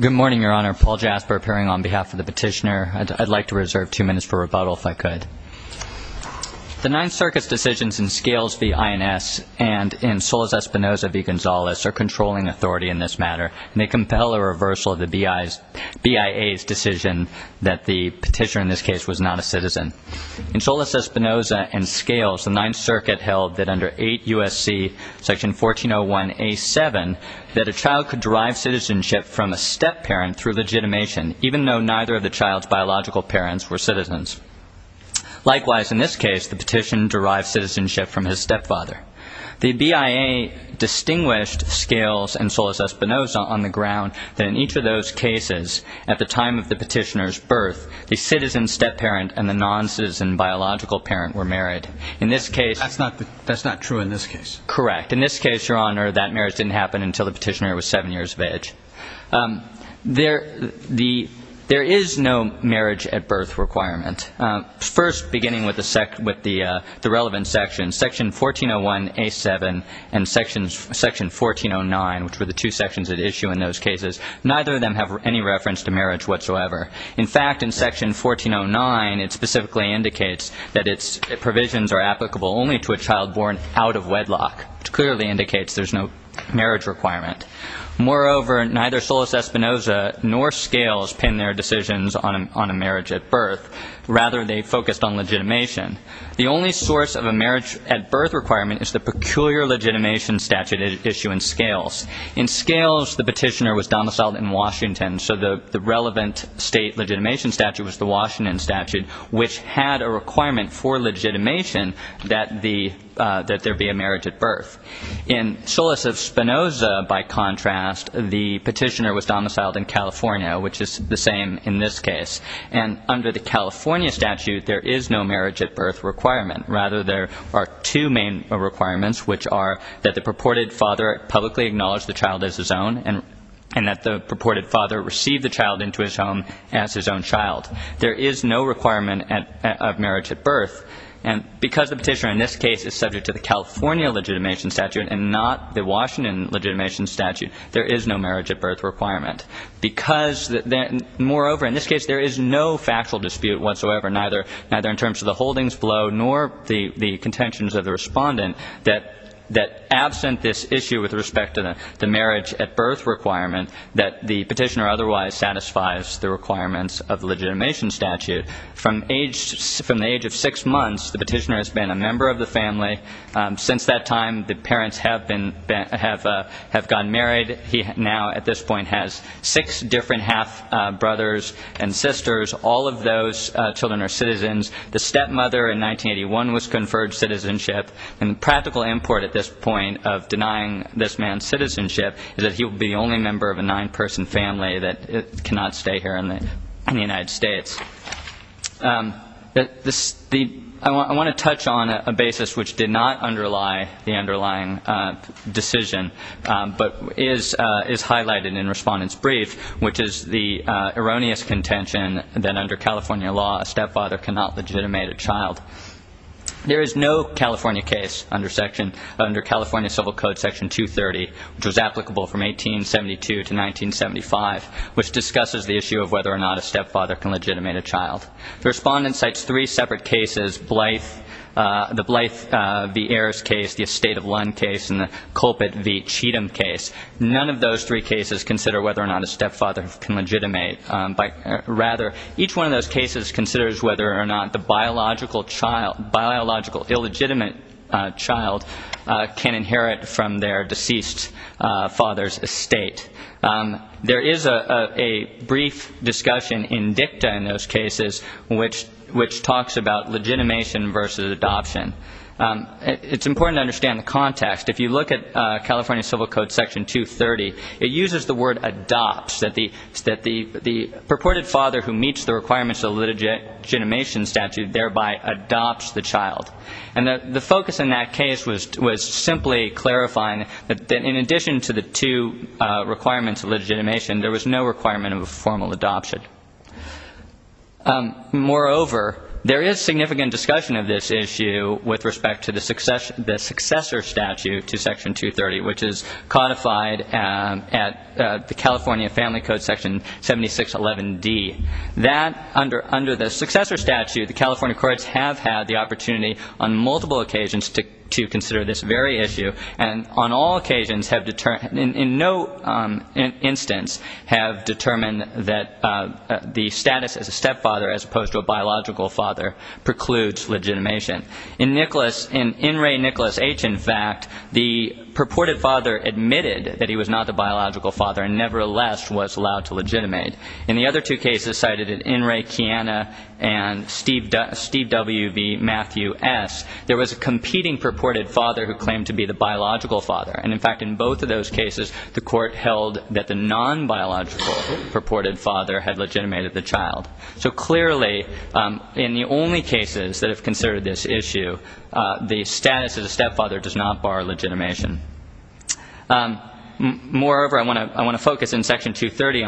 Good morning, Your Honor. Paul Jasper appearing on behalf of the petitioner. I'd like to begin by thanking the INS and in Solis-Espinosa v. Gonzales, their controlling authority in this matter and they compel a reversal of the BIA's decision that the petitioner in this case was not a citizen. In Solis-Espinosa and scales the Ninth Circuit held that under 8 U.S.C. Section 1401-A-7 that a child could derive citizenship from a step-parent through legitimation even though neither of the child's biological parents were citizens. Likewise in this case the petition derived citizenship from his step-father. The BIA distinguished scales and Solis-Espinosa on the ground that in each of those cases at the time of the petitioner's birth a citizen step-parent and the non-citizen biological parent were married. In this case... That's not true in this case. Correct. In this case, your honor, that marriage didn't happen until the petitioner was 7 years of age. There is no marriage at birth requirement. First, beginning with the relevant section, Section 1401-A-7 and Section 1409, which were the two sections at issue in those cases, neither of them have any reference to marriage whatsoever. In fact, in Section 1409 it specifically indicates that its provisions are applicable only to a child born out of wedlock, which clearly indicates there's no marriage requirement. Moreover, neither Solis-Espinosa nor scales pin their decisions on a marriage at birth. Rather, they focused on legitimation. The only source of a marriage at birth requirement is the peculiar legitimation statute at issue in scales. In scales, the petitioner was domiciled in Washington, so the relevant state legitimation statute was the Washington statute, which had a requirement for legitimation that there be a marriage at birth. In Solis-Espinosa by contrast, the petitioner was domiciled in California, which is the same in this case. And under the California statute, there is no marriage at birth requirement. Rather, there are two main requirements, which are that the purported father publicly acknowledge the child as his own and that the purported father receive the child into his home as his own child. There is no requirement of marriage at birth. And because the petitioner in this case is subject to the California legitimation statute and not the Washington legitimation statute, there is no marriage at birth requirement. Because moreover, in this case, there is no factual dispute whatsoever, neither in terms of the holdings below nor the contentions of the respondent, that absent this issue with respect to the marriage at birth requirement, that the petitioner otherwise satisfies the requirements of the legitimation statute. From the age of six months, the petitioner has been a member of the family. Since that time, the parents have gone married. He now at this point has six different half-brothers and sisters. All of those children are citizens. The stepmother in 1981 was conferred citizenship. And the practical import at this point of denying this man citizenship is that he will be the only member of a nine-person family that cannot stay here in the United States. I want to touch on a basis which did not underlie the underlying decision, but is highlighted in Respondent's brief, which is the erroneous contention that under California law, a stepfather cannot legitimate a child. There is no California case under California Civil Code Section 230, which was applicable from 1872 to 1975, which discusses the issue of whether or not a stepfather can legitimate a child. The Respondent cites three separate cases, the Blythe v. Ayers case, the Estate of Lund case, and the Colpitt v. Cheatham case. None of those three cases consider whether or not a stepfather can legitimate. Rather, each one of those cases considers whether or not the biological illegitimate child can inherit from their deceased father's estate. There is a brief discussion in dicta in those cases which talks about legitimation versus adoption. It's important to understand the context. If you look at California Civil Code Section 230, it uses the word adopts, that the purported father who meets the requirements of a legitimation statute thereby adopts the child. And the focus in that case was simply clarifying that in addition to the two requirements of legitimation, there was no requirement of a formal adoption. Moreover, there is significant discussion of this issue with respect to the successor statute to Section 230, which is codified at the California Family Code Section 7611D. Under the successor statute, the California courts have had the opportunity on multiple occasions to consider this very issue, and on all occasions have determined, in no instance, have determined that the status as a stepfather as opposed to a biological father precludes legitimation. In N. Ray Nicholas H., in fact, the purported father admitted that he was not the biological father and nevertheless was allowed to legitimate. In the other two cases, there was a competing purported father who claimed to be the biological father. And in fact, in both of those cases, the court held that the non-biological purported father had legitimated the child. So clearly, in the only cases that have considered this issue, the status as a stepfather does not bar legitimation. Moreover, I want to focus in Section 230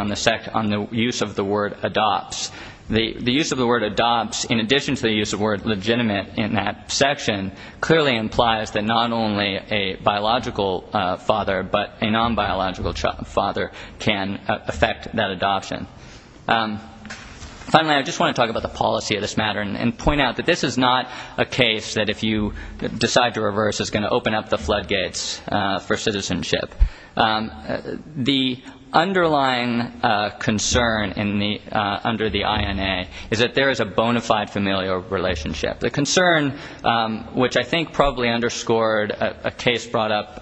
on the use of the word adopts. The use of the word adopts, in addition to the use of the word legitimate in that section, clearly implies that not only a biological father but a non-biological father can affect that adoption. Finally, I just want to talk about the policy of this matter and point out that this is not a case that if you decide to reverse is going to open up the floodgates for citizenship. The underlying concern under the INA is that there is a bona fide familial relationship. The concern, which I think probably underscored a case brought up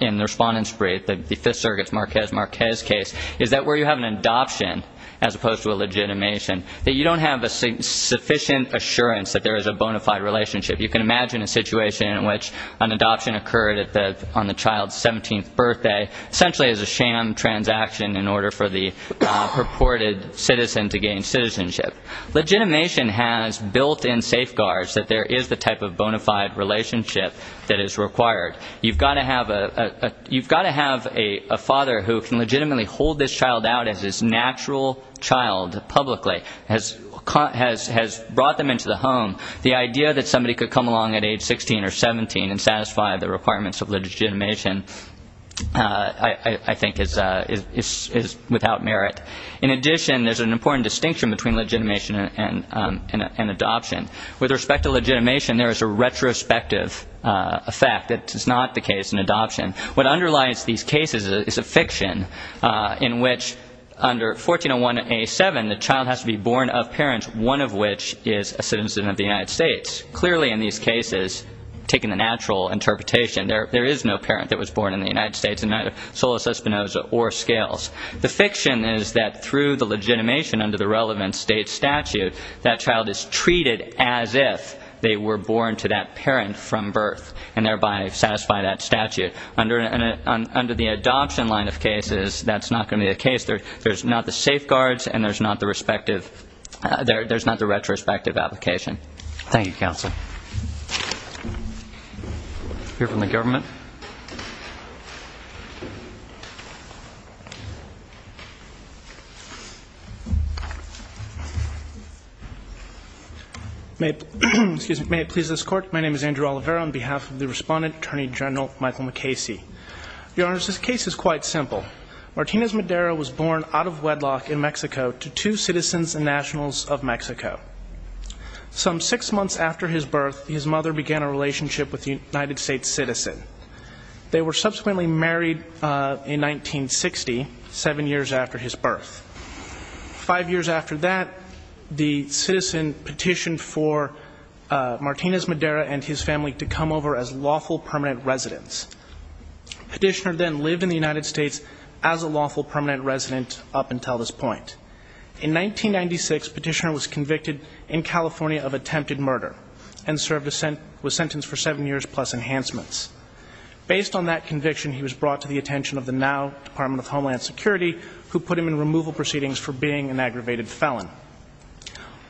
in the Respondents' Brief, the Fifth Circuit's Marquez-Marquez case, is that where you have an adoption as opposed to a legitimation, that you don't have a sufficient assurance that there is a bona fide relationship. You can imagine a situation in which an adoption occurred on the child's 17th birthday essentially as a sham transaction in order for the purported citizen to gain citizenship. Legitimation has built-in safeguards that there is the type of bona fide relationship that is required. You've got to have a father who can legitimately hold this child out as his natural child publicly, has brought them into the home. The idea that somebody could come along at age 16 or 17 and satisfy the requirements of legitimation, I think, is without merit. In addition, there is an important distinction between legitimation and adoption. With respect to legitimation, there is a retrospective effect. That is not the case in adoption. What underlies these cases is a fiction in which under 1401A7, the child has to be born of parents, one of which is a citizen of the United States. Clearly in these cases, taking the natural interpretation, there is no parent that was born in the United States and neither solus espinosa or scales. The fiction is that through the legitimation under the relevant state statute, that child is treated as if they were born to that parent from birth and thereby satisfy that statute. Under the adoption line of cases, that's not going to be the case. There's not the safeguards and there's not the retrospective application. Thank you, counsel. We'll hear from the government. May it please this Court. My name is Andrew Oliveira. On behalf of the Respondent, Attorney General Michael McCasey, Your Honor, this case is quite simple. Martinez Madera was born out of wedlock in Mexico to two citizens and nationals of Mexico. Some six months after his birth, his mother began a relationship with a United States citizen. They were subsequently married in 1960, seven years after his birth. Five years after that, the citizen petitioned for Martinez Madera and his family to come over as lawful permanent residents. Petitioner then lived in the United States as a lawful permanent resident up until this point. In 1996, Petitioner was convicted in California of attempted murder and served a sentence for seven years plus enhancements. Based on that conviction, he was brought to the attention of the now Department of Homeland Security, who put him in removal proceedings for being an aggravated felon.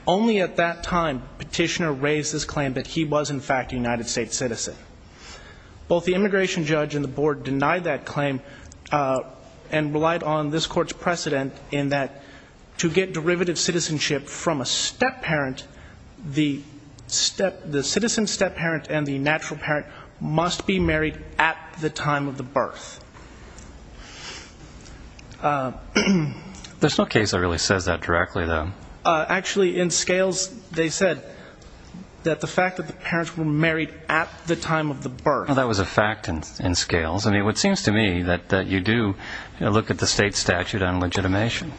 Only at that time, Petitioner raised his claim that he was in fact a United States citizen. Both the immigration judge and the board denied that claim and relied on this Court's precedent in that to get derivative citizenship from a stepparent, the citizen's stepparent and the natural parent must be married at the time of the birth. There's no case that really says that directly, though. Actually, in Scales, they said that the fact that the parents were married at the time of the birth. Well, that was a fact in Scales. I mean, it seems to me that you do look at the state statute on legitimation.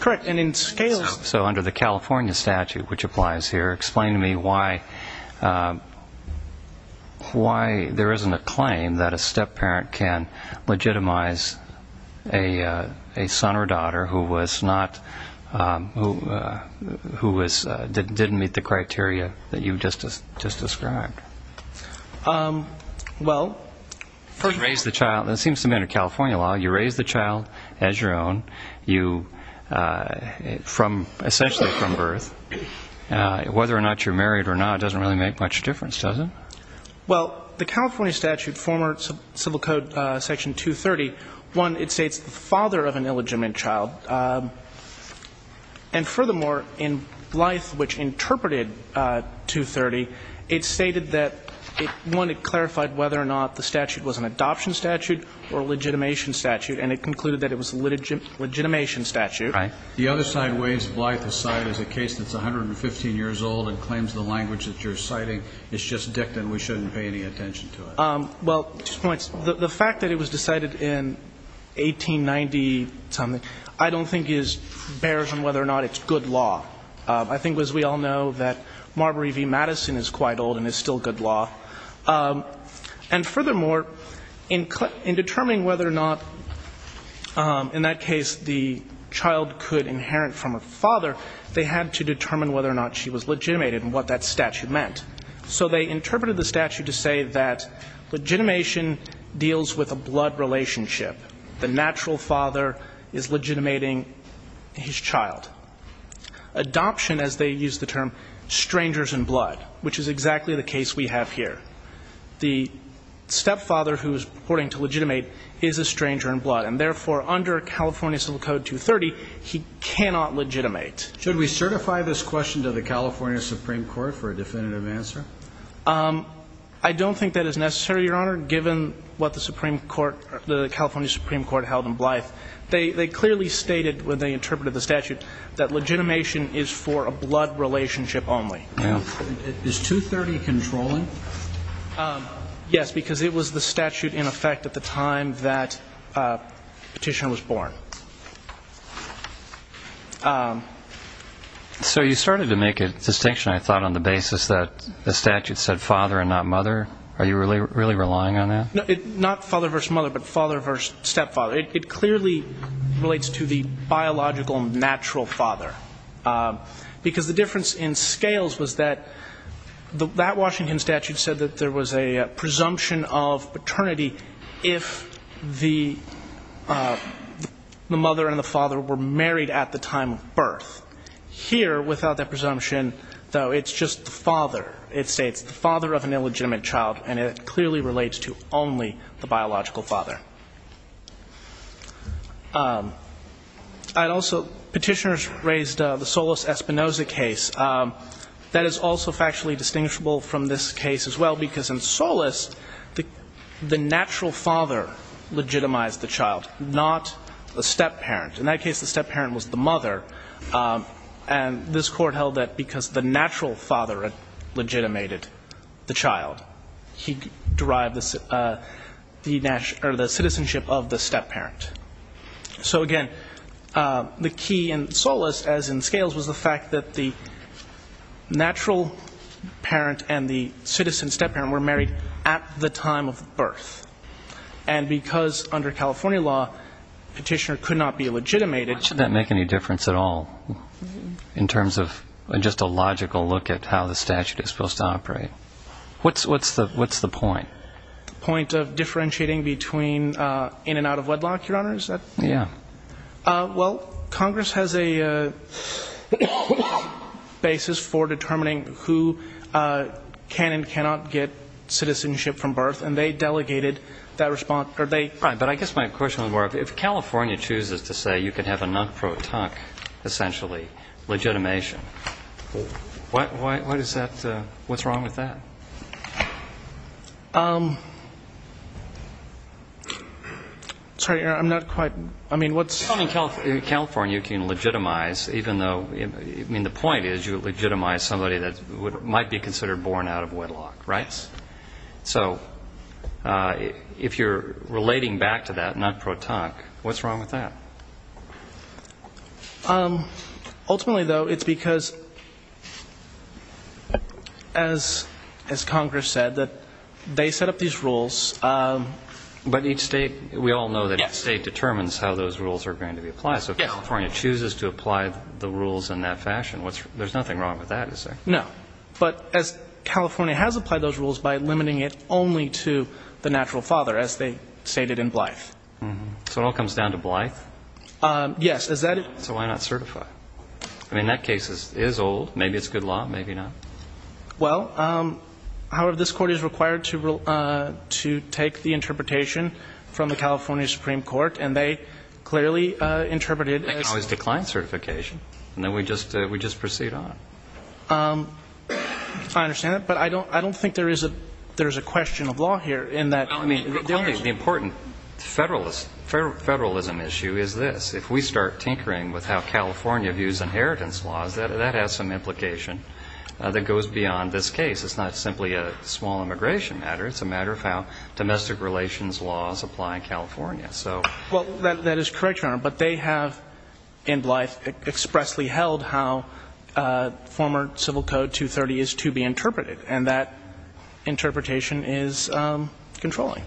Correct. And in Scales So under the California statute, which applies here, explain to me why there isn't a claim that a stepparent can legitimize a son or daughter who was not, who was, didn't meet the criteria that you just described. Well, first Raised the child, it seems to me under California law, you raise the child as your own, you from, essentially from birth. Whether or not you're married or not doesn't really make much difference, does it? Well, the California statute, former civil code section 230, one, it states the father of an illegitimate child. And furthermore, in Blythe, which interpreted 230, it stated that it wanted to clarify whether or not the statute was an adoption statute or a legitimation statute, and it concluded that it was a legitimation statute. Right. The other side, Ways of Life, has cited as a case that's 115 years old and claims that the language that you're citing is just dicked and we shouldn't pay any attention to it. Well, two points. The fact that it was decided in 1890-something, I don't think bears on whether or not it's good law. I think, as we all know, that Marbury v. Madison is quite old and is still good law. And furthermore, in determining whether or not, in that case, the child could inherit from a father, they had to determine whether or not she was legitimated and what that statute meant. So they interpreted the statute to say that legitimation deals with a blood relationship. The natural father is legitimating his child. Adoption, as they use the term, strangers in blood, which is exactly the case we have here. The stepfather who's reporting to legitimate is a stranger in blood, and therefore, under California civil code 230, he cannot legitimate. Should we certify this question to the California Supreme Court for a definitive answer? I don't think that is necessary, Your Honor, given what the California Supreme Court held in Blythe. They clearly stated when they interpreted the statute that legitimation is for a blood relationship only. Is 230 controlling? Yes, because it was the statute in effect at the time that Petitioner was born. So you started to make a distinction, I thought, on the basis that the statute said father and not mother. Are you really relying on that? Not father versus mother, but father versus stepfather. It clearly relates to the biological natural father, because the difference in scales was that that Washington statute said that there was a presumption of paternity if the mother and the father were married at the time of birth. Here, without that presumption, though, it's just the father. It states the father of an illegitimate child, and it clearly relates to only the biological father. Petitioners raised the Solis-Espinosa case. That is also factually distinguishable from this case as well, because in Solis, the natural father legitimized the child, not the stepparent. In that case, the stepparent was the mother, and this Court held that because the natural father had legitimated the child, he derived the citizenship of the stepparent. So again, the key in Solis, as in scales, was the fact that the natural parent and the citizen stepparent were married at the time of birth. And because under California law, petitioner could not be legitimated. Why should that make any difference at all, in terms of just a logical look at how the statute is supposed to operate? What's the point? The point of differentiating between in and out of wedlock, Your Honor, is that? Yeah. Well, Congress has a basis for determining who can and cannot get citizenship from birth, and they delegated that response, or they... Right, but I guess my question was more, if California chooses to say you can have a non-pro-toc, essentially, legitimation, what is that, what's wrong with that? Sorry, Your Honor, I'm not quite, I mean, what's... I mean, in California you can legitimize, even though, I mean, the point is you legitimize somebody that might be considered born out of wedlock, right? So if you're relating back to that, not pro-toc, what's wrong with that? Ultimately, though, it's because, as Congress said, that they set up these rules... But each state, we all know that each state determines how those rules are going to be applied. So if California chooses to apply the rules in that fashion, there's nothing wrong with that, is there? No. But as California has applied those rules by limiting it only to the natural father, as they stated in Blythe. So it all comes down to Blythe? Yes, as that... So why not certify? I mean, that case is old, maybe it's good law, maybe not. Well, however, this Court is required to take the interpretation from the California Supreme Court, and they clearly interpreted... And then we just proceed on. I understand that. But I don't think there is a question of law here in that... Well, I mean, the only important federalism issue is this. If we start tinkering with how California views inheritance laws, that has some implication that goes beyond this case. It's not simply a small immigration matter. It's a matter of how domestic relations laws apply in California. Well, that is correct, Your Honor. But they have, in Blythe, expressly held how former Civil Code 230 is to be interpreted. And that interpretation is controlling.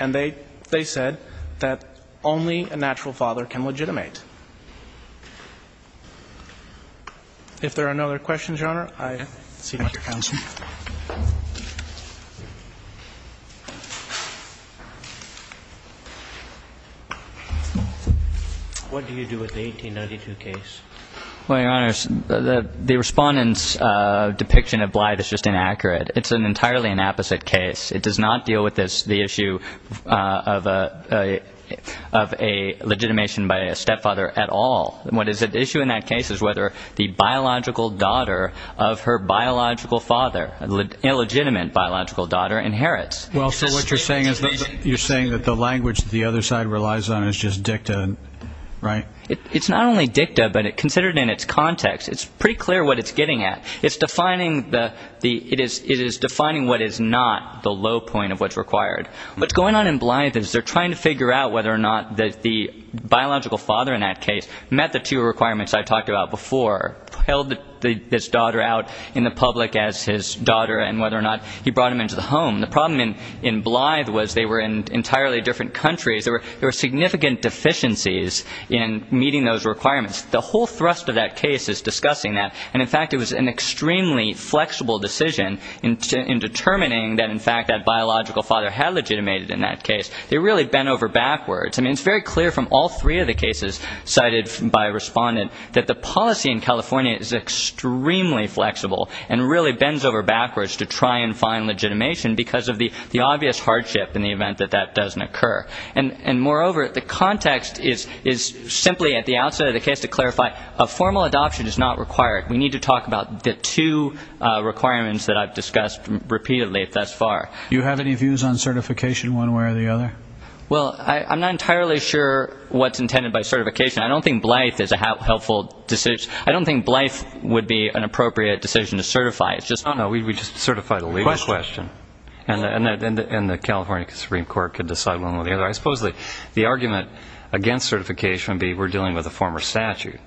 And they said that only a natural father can legitimate. If there are no other questions, Your Honor, I cede my counsel. Thank you, counsel. What do you do with the 1892 case? Well, Your Honor, the Respondent's depiction of Blythe is just inaccurate. It's an entirely inapposite case. It does not deal with the issue of a legitimation by a stepfather at all. What is at issue in that case is whether the biological daughter of her biological father, an illegitimate biological daughter, inherits. Well, so what you're saying is you're saying that the language that the other side relies on is just dicta, right? It's not only dicta, but considered in its context, it's pretty clear what it's getting at. It is defining what is not the low point of what's required. What's going on in Blythe is they're trying to figure out whether or not the biological father in that case met the two requirements, his daughter, and whether or not he brought him into the home. The problem in Blythe was they were in entirely different countries. There were significant deficiencies in meeting those requirements. The whole thrust of that case is discussing that. And, in fact, it was an extremely flexible decision in determining that, in fact, that biological father had legitimated in that case. They really bent over backwards. I mean, it's very clear from all three of the cases cited by Respondent that the policy in California is extremely flexible and really bends over backwards to try and find legitimation because of the obvious hardship in the event that that doesn't occur. And, moreover, the context is simply at the outset of the case to clarify a formal adoption is not required. We need to talk about the two requirements that I've discussed repeatedly thus far. Do you have any views on certification one way or the other? Well, I'm not entirely sure what's intended by certification. I don't think Blythe is a helpful decision. I don't think Blythe would be an appropriate decision to certify. No, no, we just certify the legal question. And the California Supreme Court could decide one way or the other. I suppose the argument against certification would be we're dealing with a former statute.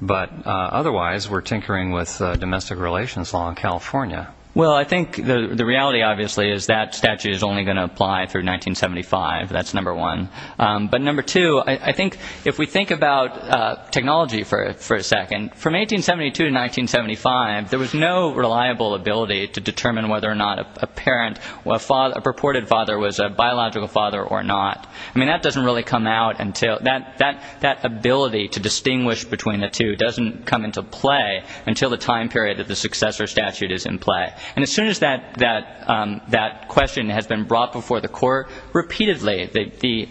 But, otherwise, we're tinkering with domestic relations law in California. Well, I think the reality, obviously, is that statute is only going to apply through 1975. That's number one. But, number two, I think if we think about technology for a second, from 1872 to 1975, there was no reliable ability to determine whether or not a parent, a purported father, was a biological father or not. I mean, that doesn't really come out until that ability to distinguish between the two doesn't come into play until the time period that the successor statute is in play. And as soon as that question has been brought before the court repeatedly, the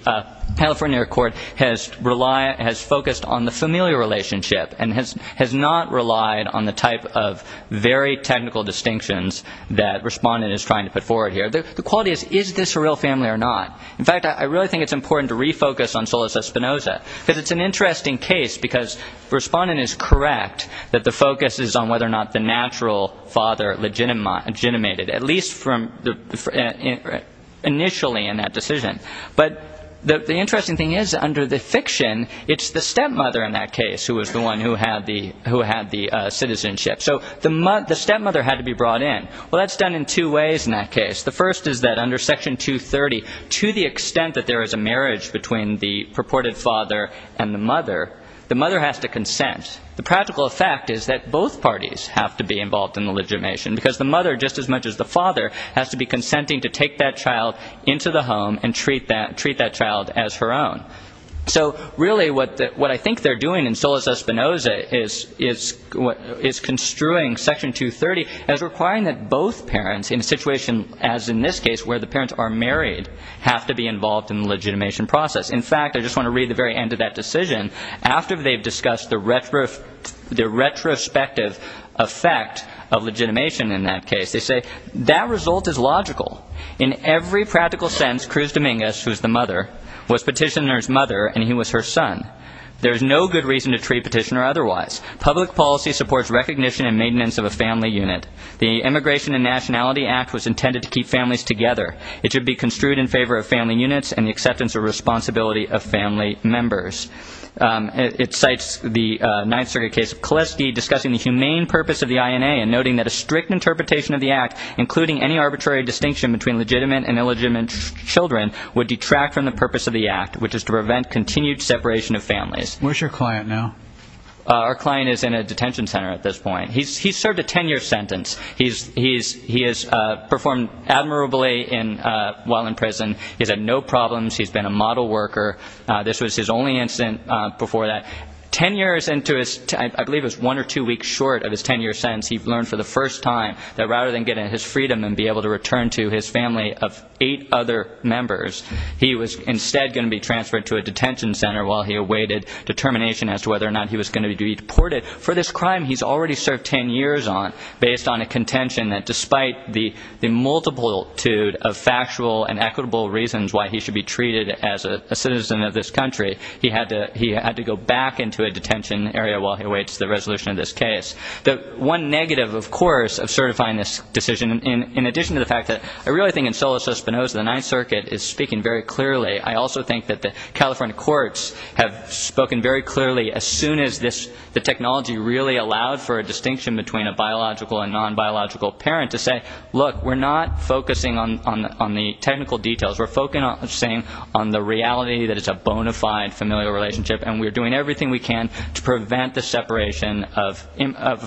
California court has focused on the familial relationship and has not relied on the type of very technical distinctions that Respondent is trying to put forward here. The quality is, is this a real family or not? In fact, I really think it's important to refocus on Solis Espinoza because it's an interesting case because Respondent is correct that the focus is on whether or not the natural father legitimated, at least initially in that decision. But the interesting thing is, under the fiction, it's the stepmother in that case who was the one who had the citizenship. So the stepmother had to be brought in. Well, that's done in two ways in that case. The first is that under Section 230, to the extent that there is a marriage between the purported father and the mother, the mother has to consent. The practical fact is that both parties have to be involved in the legitimation because the mother, just as much as the father, has to be consenting to take that child into the home and treat that child as her own. So really what I think they're doing in Solis Espinoza is construing Section 230 as requiring that both parents, in a situation as in this case where the parents are married, have to be involved in the legitimation process. In fact, I just want to read the very end of that decision. After they've discussed the retrospective effect of legitimation in that case, they say, That result is logical. In every practical sense, Cruz Dominguez, who is the mother, was petitioner's mother and he was her son. There is no good reason to treat petitioner otherwise. Public policy supports recognition and maintenance of a family unit. The Immigration and Nationality Act was intended to keep families together. It should be construed in favor of family units and the acceptance or responsibility of family members. It cites the Ninth Circuit case of Koleski discussing the humane purpose of the INA and noting that a strict interpretation of the act, including any arbitrary distinction between legitimate and illegitimate children, would detract from the purpose of the act, which is to prevent continued separation of families. Where's your client now? Our client is in a detention center at this point. He's served a 10-year sentence. He has performed admirably while in prison. He's had no problems. He's been a model worker. This was his only incident before that. Ten years into his, I believe it was one or two weeks short of his 10-year sentence, he learned for the first time that rather than getting his freedom and be able to return to his family of eight other members, he was instead going to be transferred to a detention center while he awaited determination as to whether or not he was going to be deported. For this crime he's already served 10 years on, based on a contention that despite the multitude of factual and equitable reasons why he should be treated as a citizen of this country, he had to go back into a detention area while he awaits the resolution of this case. The one negative, of course, of certifying this decision, in addition to the fact that I really think Anselo Cispinoza, the Ninth Circuit, is speaking very clearly, I also think that the California courts have spoken very clearly as soon as the technology really allowed for a distinction between a biological and non-biological parent to say, look, we're not focusing on the technical details. We're focusing on the reality that it's a bona fide familial relationship and we're doing everything we can to prevent the separation of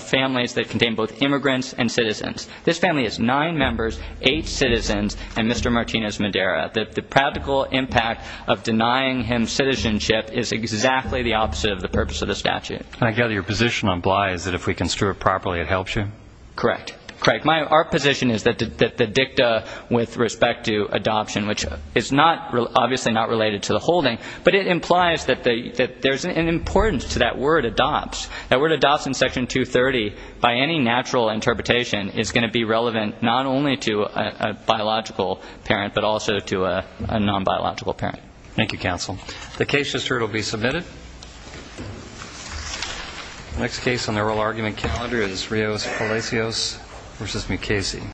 families that contain both immigrants and citizens. This family is nine members, eight citizens, and Mr. Martinez Madera. The practical impact of denying him citizenship is exactly the opposite of the purpose of the statute. And I gather your position on Bly is that if we construe it properly it helps you? Correct. Our position is that the dicta with respect to adoption, which is obviously not related to the holding, but it implies that there's an importance to that word adopts. That word adopts in Section 230, by any natural interpretation, is going to be relevant not only to a biological parent, but also to a non-biological parent. Thank you, counsel. The case just heard will be submitted. The next case on the oral argument calendar is Rios Palacios v. McKaysey.